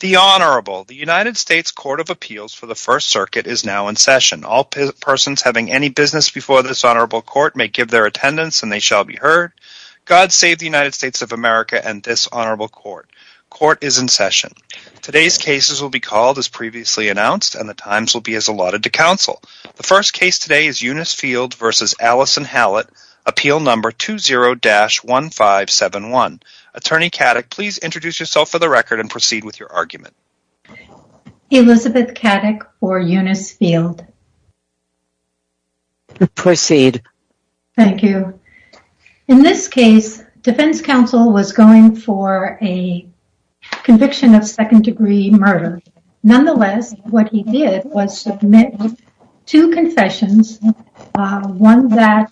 The Honorable. The United States Court of Appeals for the First Circuit is now in session. All persons having any business before this Honorable Court may give their attendance and they shall be heard. God save the United States of America and this Honorable Court. Court is in session. Today's cases will be called as previously announced and the times will be as allotted to counsel. The first case today is Eunice Field v. Allison Hallett, Appeal No. 20-1571. Attorney Kaddick, please introduce yourself for the record and proceed with your argument. Elizabeth Kaddick for Eunice Field. Proceed. Thank you. In this case, defense counsel was going for a conviction of second degree murder. Nonetheless, what he did was submit two confessions, one that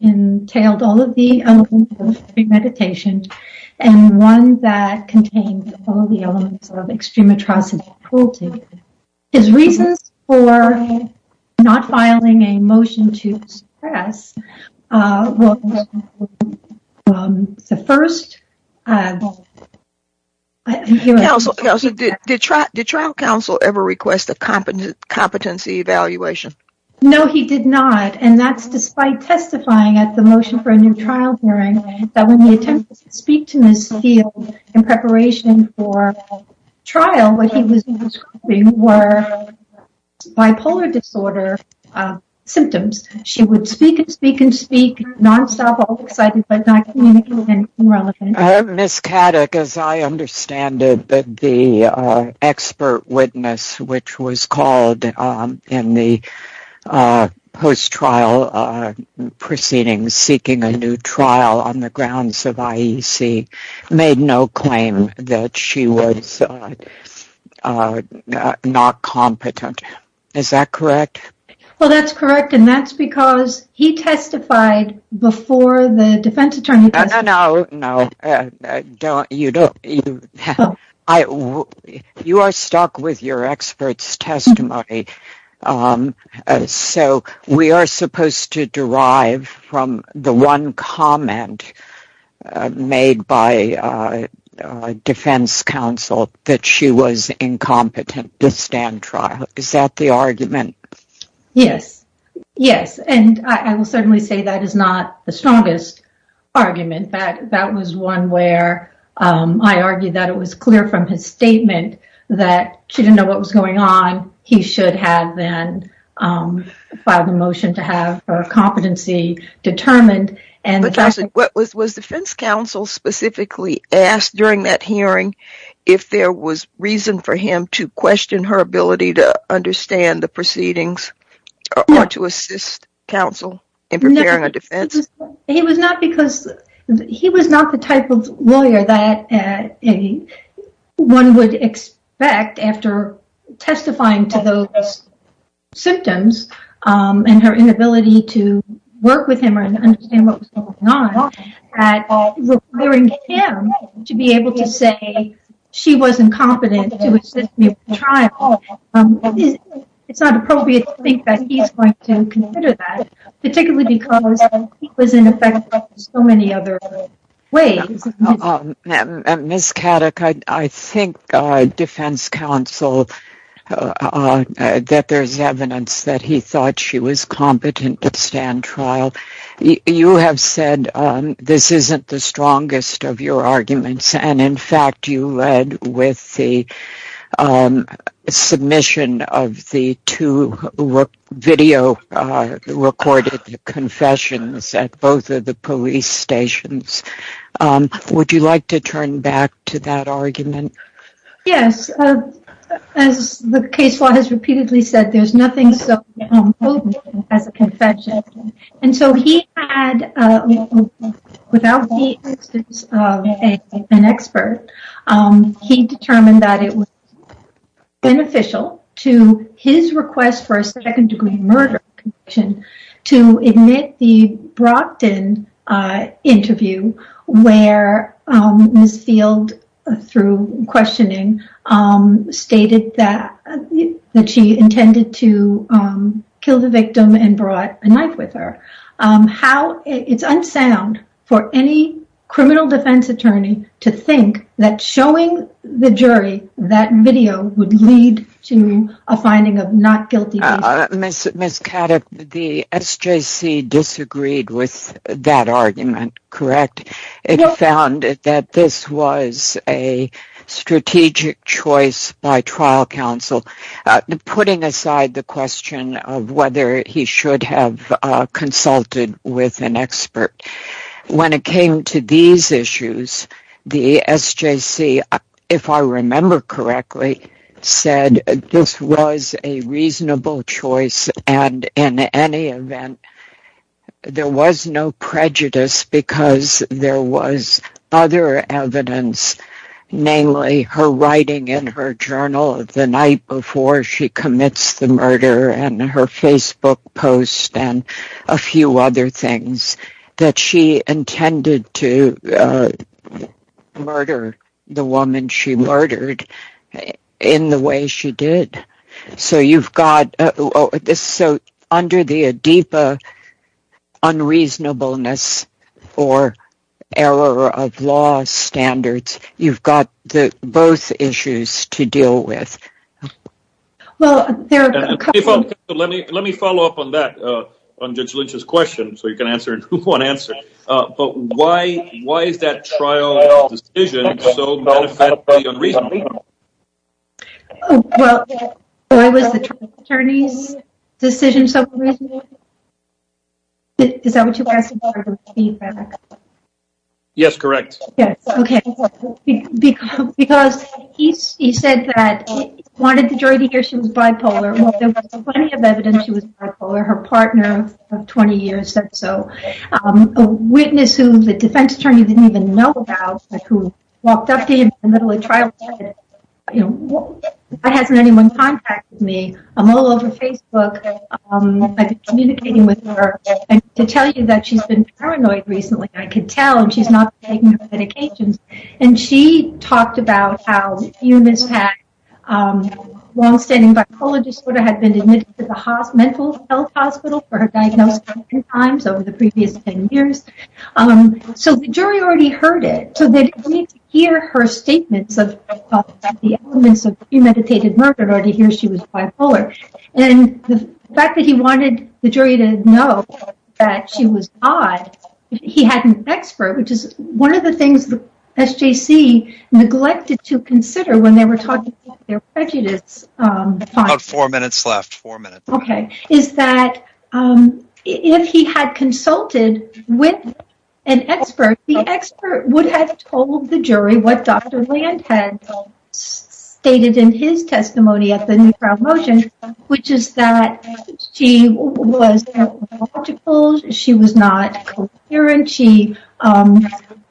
entailed all of the elements of free meditation and one that contained all of the elements of extreme atrocity. His reasons for not filing a motion to suppress was the first... Counsel, did trial counsel ever request a competency evaluation? No, he did not. And that's despite testifying at the motion for a new trial hearing that when he attempted to speak to Eunice Field in preparation for trial, what he was describing were bipolar disorder symptoms. She would speak and speak and speak, nonstop, all excited, but not communicating anything relevant. Ms. Kaddick, as I understand it, the expert witness which was called in the post-trial proceedings seeking a new trial on the grounds of IEC made no claim that she was not competent. Is that correct? Well, that's correct, and that's because he testified before the defense attorney... No, no, no. You are stuck with your expert's testimony, so we are supposed to derive from the one comment made by defense counsel that she was incompetent to stand trial. Is that the argument? Yes, yes, and I will certainly say that is not the strongest argument. That was one where I argued that it was clear from his statement that she didn't know what was going on. He should have then filed a motion to have her competency determined. Was defense counsel specifically asked during that hearing if there was reason for him to question her ability to understand the proceedings or to assist counsel in preparing a defense? He was not the type of lawyer that one would expect after testifying to those symptoms and her inability to work with him or understand what was going on, that requiring him to be able to say she wasn't competent to assist me with the trial, it's not appropriate to think that he's going to consider that, particularly because he was, in effect, so many other ways. Ms. Kaddick, I think defense counsel, that there's evidence that he thought she was competent to stand trial. You have said this isn't the strongest of your arguments, and in fact you led with the submission of the two video-recorded confessions at both of the police stations. Would you like to turn back to that argument? Yes. As the case law has repeatedly said, there's nothing so potent as a confession. And so he had, without the assistance of an expert, he determined that it was beneficial to his request for a second-degree murder conviction to admit the Brockton interview where Ms. Field, through questioning, stated that she intended to kill the victim and brought a knife with her. It's unsound for any criminal defense attorney to think that showing the jury that video would lead to a finding of not guilty. Ms. Kaddick, the SJC disagreed with that argument, correct? It found that this was a strategic choice by trial counsel, putting aside the question of whether he should have consulted with an expert. When it came to these issues, the SJC, if I remember correctly, said this was a reasonable choice, and in any event, there was no prejudice because there was other evidence, namely her writing in her journal the night before she commits the murder, and her Facebook post, and a few other things, that she intended to murder the woman she murdered in the way she did. So under the Adipa unreasonableness or error of law standards, you've got both issues to deal with. Let me follow up on that, on Judge Lynch's question, so you can answer it in one answer. But why is that trial decision so benefit the unreasonable? Well, why was the trial attorney's decision so unreasonable? Is that what you're asking for, the feedback? Yes, correct. Yes, okay. Because he said that he wanted the jury to hear she was bipolar. There was plenty of evidence she was bipolar, her partner of 20 years or so. A witness who the defense attorney didn't even know about, who walked up to him in the middle of trial, you know, why hasn't anyone contacted me? I'm all over Facebook. I've been communicating with her. And to tell you that she's been paranoid recently, I can tell, and she's not taking her medications. And she talked about how Eunice had long-standing bipolar disorder, had been admitted to the mental health hospital for her diagnosis three times over the previous 10 years. So the jury already heard it. So they didn't need to hear her statements about the elements of premeditated murder to hear she was bipolar. And the fact that he wanted the jury to know that she was odd, he had an expert, which is one of the things the SJC neglected to consider when they were talking about their prejudice. About four minutes left, four minutes. Okay, is that if he had consulted with an expert, the expert would have told the jury what Dr. Land had stated in his testimony at the new trial motion, which is that she was not logical. She was not coherent. She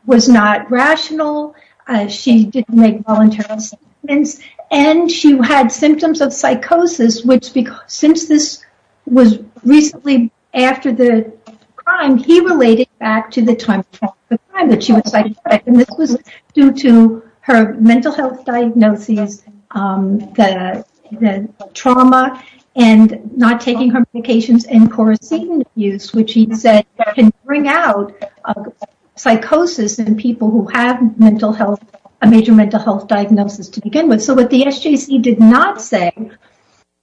was not rational. She didn't make voluntary statements. And she had symptoms of psychosis, which, since this was recently after the crime, he related back to the time that she was psychotic. And this was due to her mental health diagnoses, the trauma, and not taking her medications and co-receiving abuse, which he said can bring out psychosis in people who have a major mental health diagnosis to begin with. And so what the SJC did not say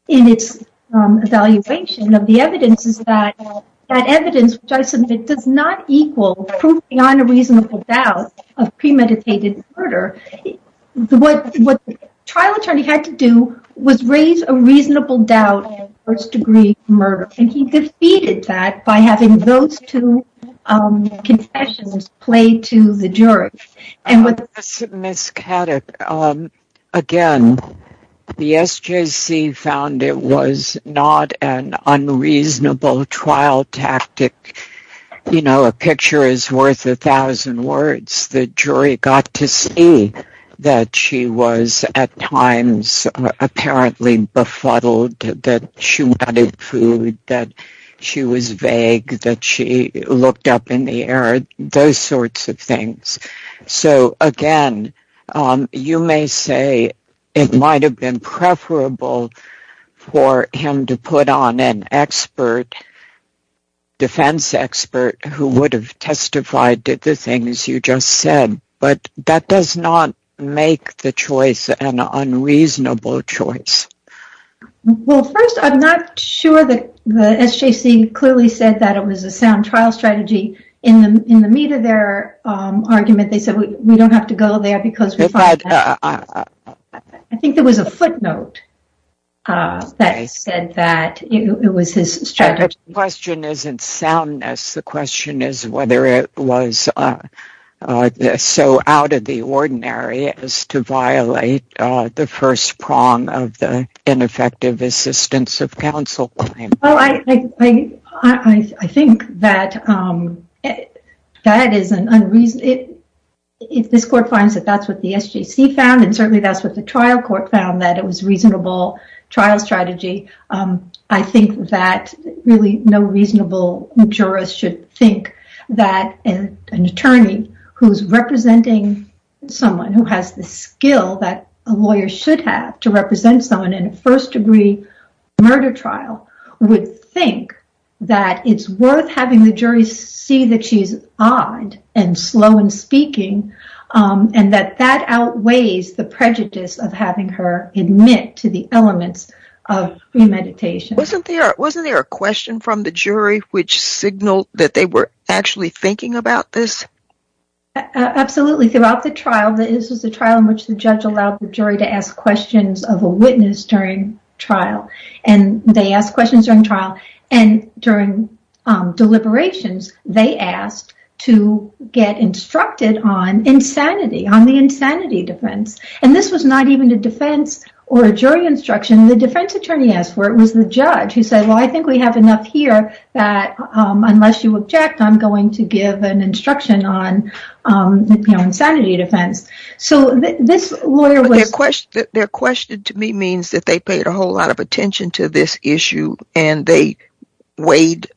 in its evaluation of the evidence is that that evidence, which I submit, does not equal proof beyond a reasonable doubt of premeditated murder. What the trial attorney had to do was raise a reasonable doubt of first-degree murder. And he defeated that by having those two confessions played to the jury. Ms. Kaddick, again, the SJC found it was not an unreasonable trial tactic. You know, a picture is worth a thousand words. The jury got to see that she was, at times, apparently befuddled, that she wanted food, that she was vague, that she looked up in the air, those sorts of things. So, again, you may say it might have been preferable for him to put on an expert, defense expert, who would have testified to the things you just said. But that does not make the choice an unreasonable choice. Well, first, I'm not sure that the SJC clearly said that it was a sound trial strategy. In the meat of their argument, they said, we don't have to go there because we find that. I think there was a footnote that said that it was his strategy. The question isn't soundness. The question is whether it was so out of the ordinary as to violate the first prong of the ineffective assistance of counsel claim. I think that this court finds that that's what the SJC found, and certainly that's what the trial court found, that it was a reasonable trial strategy. I think that really no reasonable jurist should think that an attorney who's representing someone, who has the skill that a lawyer should have to represent someone in a first degree murder trial, would think that it's worth having the jury see that she's odd and slow in speaking, and that that outweighs the prejudice of having her admit to the elements of premeditation. Wasn't there a question from the jury which signaled that they were actually thinking about this? Absolutely. Throughout the trial, this was the trial in which the judge allowed the jury to ask questions of a witness during trial. They asked questions during trial, and during deliberations, they asked to get instructed on insanity, on the insanity defense. This was not even a defense or a jury instruction. The defense attorney asked for it was the judge who said, well, I think we have enough here that unless you object, I'm going to give an instruction on insanity defense. Their question to me means that they paid a whole lot of attention to this issue, and they weighed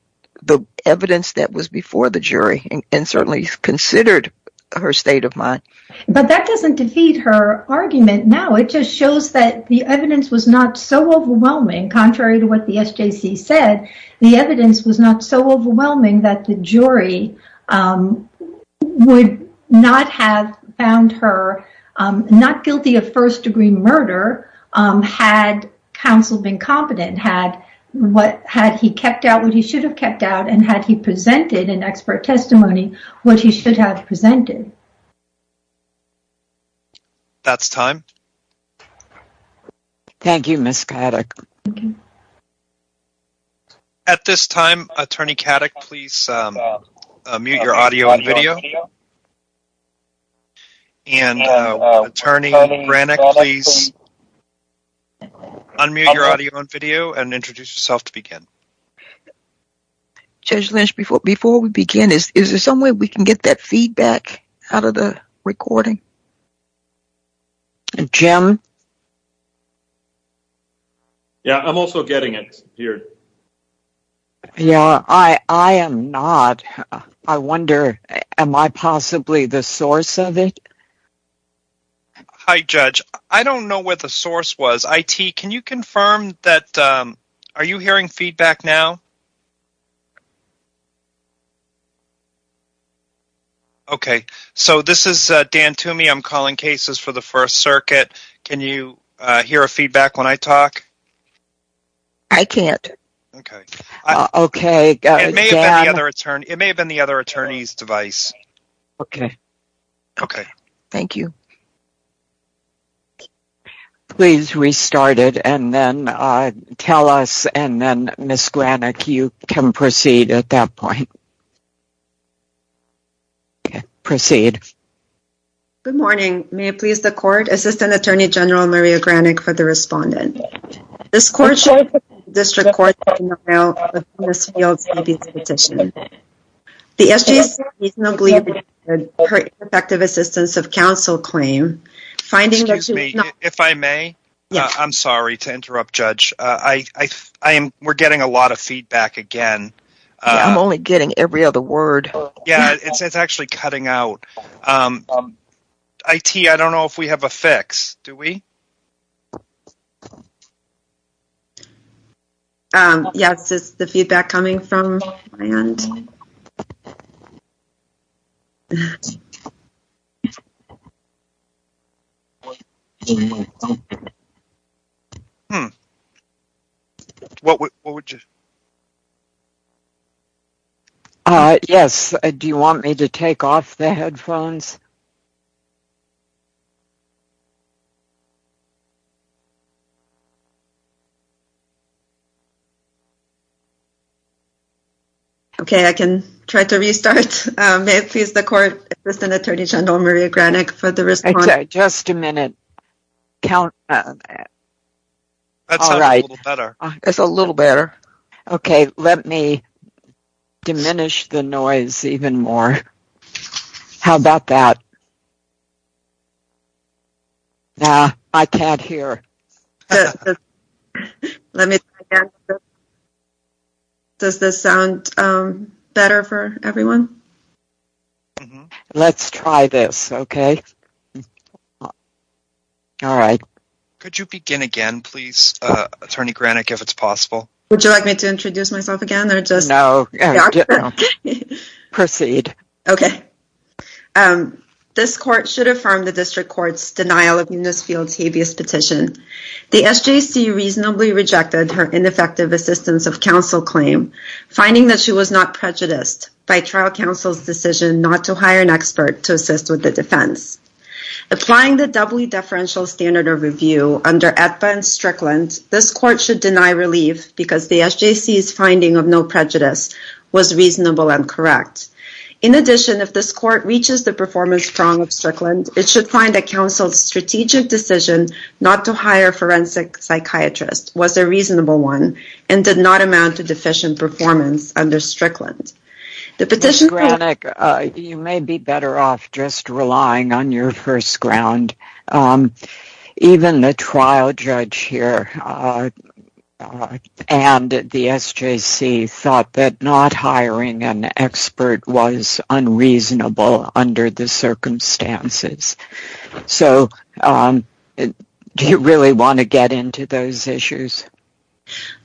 the evidence that was before the jury, and certainly considered her state of mind. But that doesn't defeat her argument now. It just shows that the evidence was not so overwhelming. Contrary to what the SJC said, the evidence was not so overwhelming that the jury would not have found her not guilty of first degree murder had counsel been competent, had he kept out what he should have kept out, and had he presented in expert testimony what he should have presented. That's time. Thank you, Ms. Kadich. At this time, Attorney Kadich, please mute your audio and video. And Attorney Braneck, please unmute your audio and video and introduce yourself to begin. Judge Lynch, before we begin, is there some way we can get that feedback out of the recording? Jim? Yeah, I'm also getting it here. Yeah, I am not. I wonder, am I possibly the source of it? Hi, Judge. I don't know where the source was. IT, can you confirm that – are you hearing feedback now? Okay, so this is Dan Toomey. I'm calling Cases for the First Circuit. Can you hear a feedback when I talk? I can't. It may have been the other attorney's device. Okay, okay. Thank you. Please restart it and then tell us, and then Ms. Braneck, you can proceed at that point. Proceed. Good morning. May it please the Court, Assistant Attorney General Maria Braneck for the respondent. This court showed that the district court did not route Ms. Fields' ABC petition. The SJC reasonably regarded her ineffective assistance of counsel claim, finding that she was not – Excuse me, if I may, I'm sorry to interrupt, Judge. We're getting a lot of feedback again. I'm only getting every other word. Yeah, it's actually cutting out. IT, I don't know if we have a fix. Do we? Yes, it's the feedback coming from my end. What would you – Yes, do you want me to take off the headphones? Okay. Okay, I can try to restart. May it please the Court, Assistant Attorney General Maria Braneck for the respondent. Okay, just a minute. That sounds a little better. It's a little better. Okay, let me diminish the noise even more. How about that? Okay. I can't hear. Let me try again. Does this sound better for everyone? Let's try this, okay? All right. Could you begin again, please, Attorney Braneck, if it's possible? Would you like me to introduce myself again? Proceed. Okay. This Court should affirm the District Court's denial of Eunice Fields' habeas petition. The SJC reasonably rejected her ineffective assistance of counsel claim, finding that she was not prejudiced by trial counsel's decision not to hire an expert to assist with the defense. Applying the doubly deferential standard of review under Aetba and Strickland, this Court should deny relief because the SJC's finding of no prejudice was reasonable and correct. In addition, if this Court reaches the performance prong of Strickland, it should find that counsel's strategic decision not to hire a forensic psychiatrist was a reasonable one and did not amount to deficient performance under Strickland. Ms. Braneck, you may be better off just relying on your first ground. Even the trial judge here and the SJC thought that not hiring an expert was unreasonable under the circumstances. So, do you really want to get into those issues?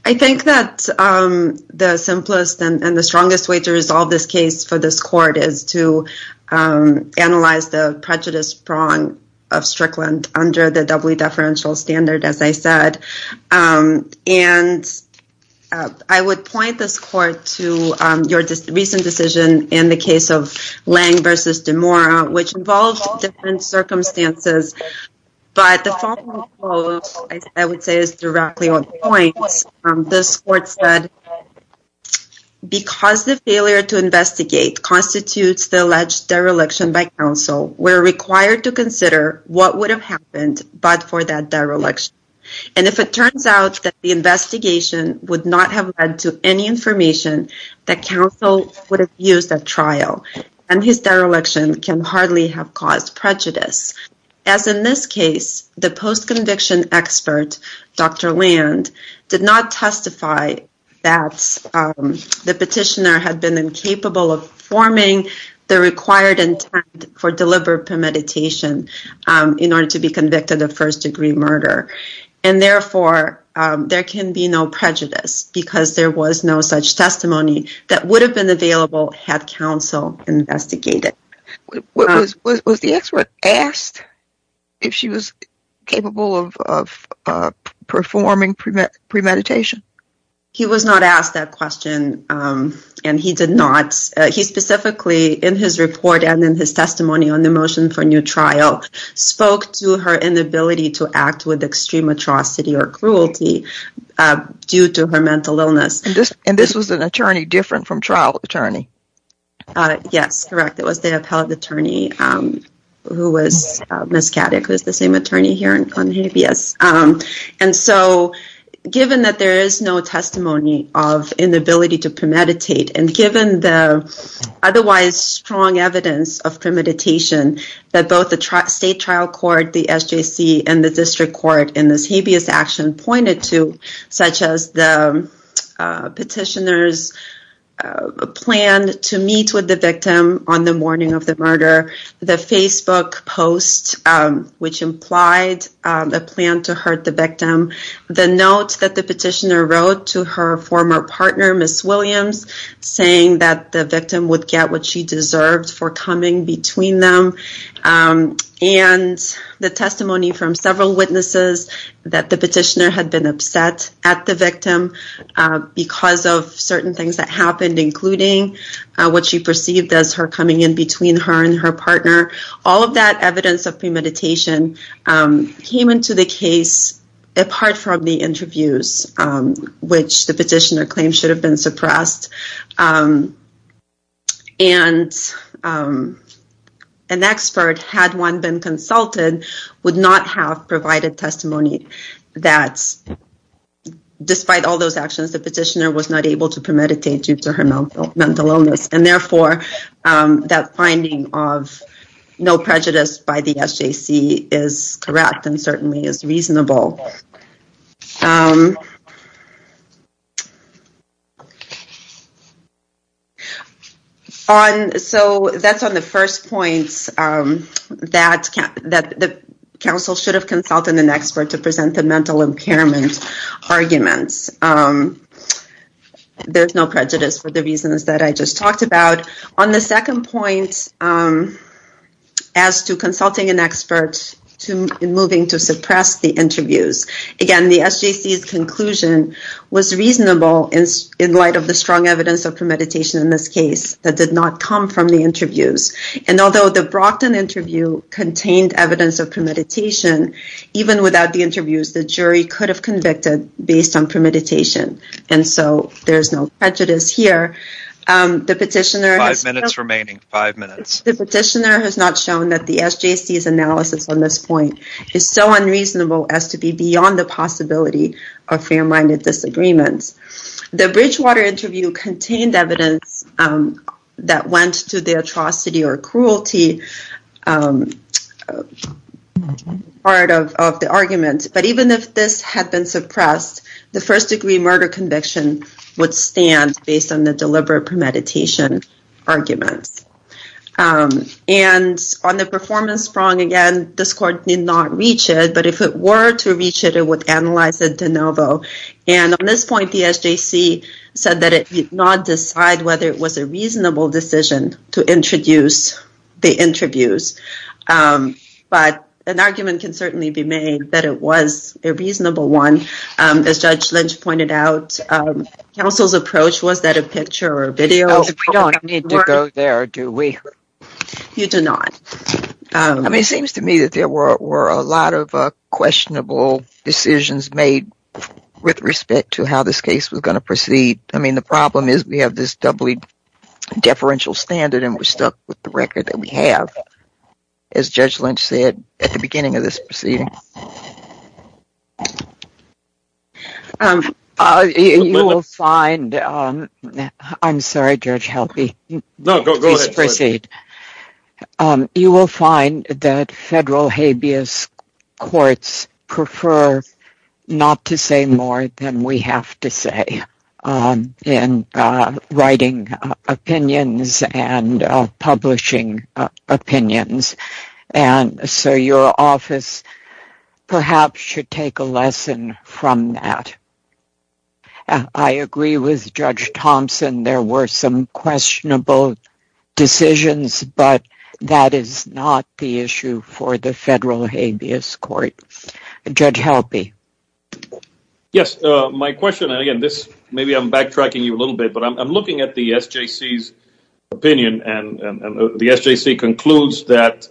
I think that the simplest and the strongest way to resolve this case for this Court is to analyze the prejudice prong of Strickland under the doubly deferential standard, as I said. And I would point this Court to your recent decision in the case of Lang v. DeMora, which involved different circumstances. But the following quote, I would say, is directly on point. This Court said, Because the failure to investigate constitutes the alleged dereliction by counsel, we are required to consider what would have happened but for that dereliction. And if it turns out that the investigation would not have led to any information, that counsel would have used a trial, and his dereliction can hardly have caused prejudice. As in this case, the post-conviction expert, Dr. Land, did not testify that the petitioner had been incapable of forming the required intent for deliberate premeditation in order to be convicted of first-degree murder. And therefore, there can be no prejudice because there was no such testimony that would have been available had counsel investigated. Was the expert asked if she was capable of performing premeditation? He was not asked that question, and he did not. He specifically, in his report and in his testimony on the motion for new trial, spoke to her inability to act with extreme atrocity or cruelty due to her mental illness. And this was an attorney different from trial attorney? Yes, correct. It was the appellate attorney who was Ms. Caddick, who is the same attorney here on habeas. And so, given that there is no testimony of inability to premeditate, and given the otherwise strong evidence of premeditation that both the state trial court, the SJC, and the district court in this habeas action pointed to, such as the petitioner's plan to meet with the victim on the morning of the murder, the Facebook post which implied a plan to hurt the victim, the note that the petitioner wrote to her former partner, Ms. Williams, saying that the victim would get what she deserved for coming between them, and the testimony from several witnesses that the petitioner had been upset at the victim because of certain things that happened, including what she perceived as her coming in between her and her partner. All of that evidence of premeditation came into the case apart from the interviews, which the petitioner claimed should have been suppressed. And an expert, had one been consulted, would not have provided testimony that, despite all those actions, the petitioner was not able to premeditate due to her mental illness. And therefore, that finding of no prejudice by the SJC is correct and certainly is reasonable. So, that's on the first point, that the council should have consulted an expert to present the mental impairment arguments. There's no prejudice for the reasons that I just talked about. On the second point, as to consulting an expert in moving to suppress the interviews, again, the SJC's conclusion was reasonable in light of the strong evidence of premeditation in this case that did not come from the interviews. And although the Brockton interview contained evidence of premeditation, even without the interviews, the jury could have convicted based on premeditation. And so, there's no prejudice here. Five minutes remaining. Five minutes. The petitioner has not shown that the SJC's analysis on this point is so unreasonable as to be beyond the possibility of fair-minded disagreements. The Bridgewater interview contained evidence that went to the atrocity or cruelty part of the argument. But even if this had been suppressed, the first-degree murder conviction would stand based on the deliberate premeditation arguments. And on the performance prong, again, this court did not reach it. But if it were to reach it, it would analyze it de novo. And on this point, the SJC said that it did not decide whether it was a reasonable decision to introduce the interviews. But an argument can certainly be made that it was a reasonable one. As Judge Lynch pointed out, counsel's approach was that a picture or video... We don't need to go there, do we? You do not. I mean, it seems to me that there were a lot of questionable decisions made with respect to how this case was going to proceed. I mean, the problem is we have this doubly deferential standard and we're stuck with the record that we have. As Judge Lynch said at the beginning of this proceeding. You will find... I'm sorry, Judge Helby. No, go ahead. You will find that federal habeas courts prefer not to say more than we have to say in writing opinions and publishing opinions. And so your office perhaps should take a lesson from that. I agree with Judge Thompson. There were some questionable decisions, but that is not the issue for the federal habeas court. Judge Helby. Yes, my question, and again, maybe I'm backtracking you a little bit, but I'm looking at the SJC's opinion. And the SJC concludes that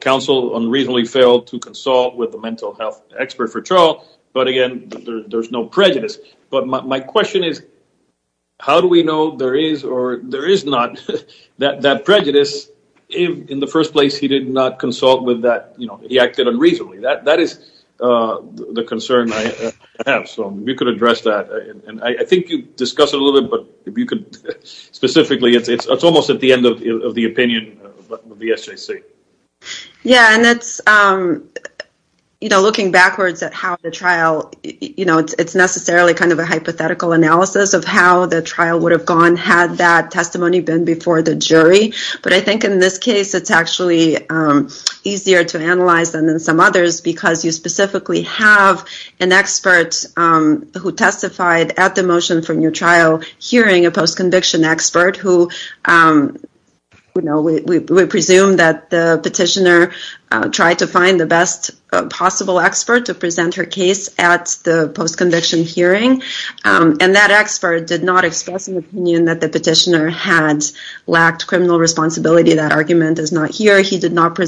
counsel unreasonably failed to consult with the mental health expert for trial. But again, there's no prejudice. But my question is, how do we know there is or there is not that prejudice? In the first place, he did not consult with that. He acted unreasonably. That is the concern I have. So if you could address that. And I think you discussed it a little bit, but if you could specifically, it's almost at the end of the opinion of the SJC. Yeah, and that's, you know, looking backwards at how the trial, you know, it's necessarily kind of a hypothetical analysis of how the trial would have gone had that testimony been before the jury. But I think in this case, it's actually easier to analyze than in some others because you specifically have an expert who testified at the motion for new trial hearing, a post-conviction expert who, you know, we presume that the petitioner tried to find the best possible expert to present her case at the post-conviction hearing. And that expert did not express an opinion that the petitioner had lacked criminal responsibility. That argument is not here. He did not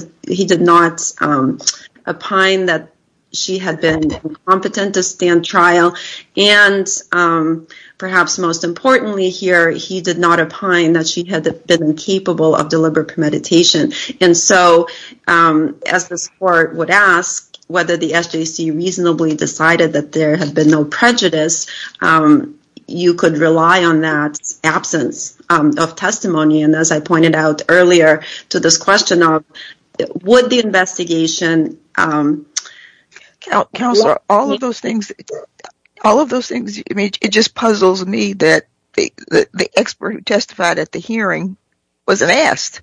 opine that she had been incompetent to stand trial. And perhaps most importantly here, he did not opine that she had been incapable of deliberate premeditation. And so, as this court would ask whether the SJC reasonably decided that there had been no prejudice, you could rely on that absence of testimony. And as I pointed out earlier to this question of would the investigation… All of those things, I mean, it just puzzles me that the expert who testified at the hearing wasn't asked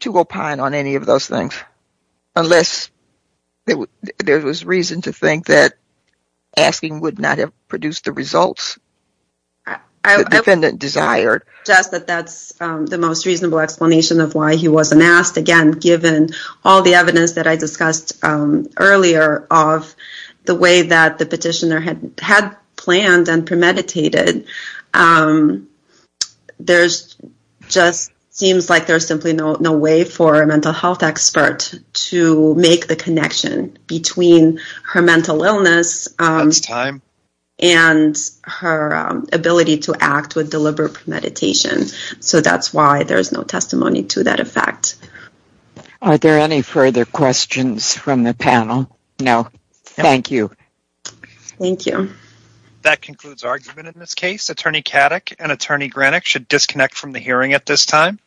to opine on any of those things unless there was reason to think that asking would not have produced the results the defendant desired. Just that that's the most reasonable explanation of why he wasn't asked. Again, given all the evidence that I discussed earlier of the way that the petitioner had planned and premeditated, there just seems like there's simply no way for a mental health expert to make the connection between her mental illness… That's time. …and her ability to act with deliberate premeditation. So that's why there's no testimony to that effect. Are there any further questions from the panel? No. Thank you. Thank you. That concludes argument in this case. Attorney Kaddick and Attorney Greenick should disconnect from the hearing at this time.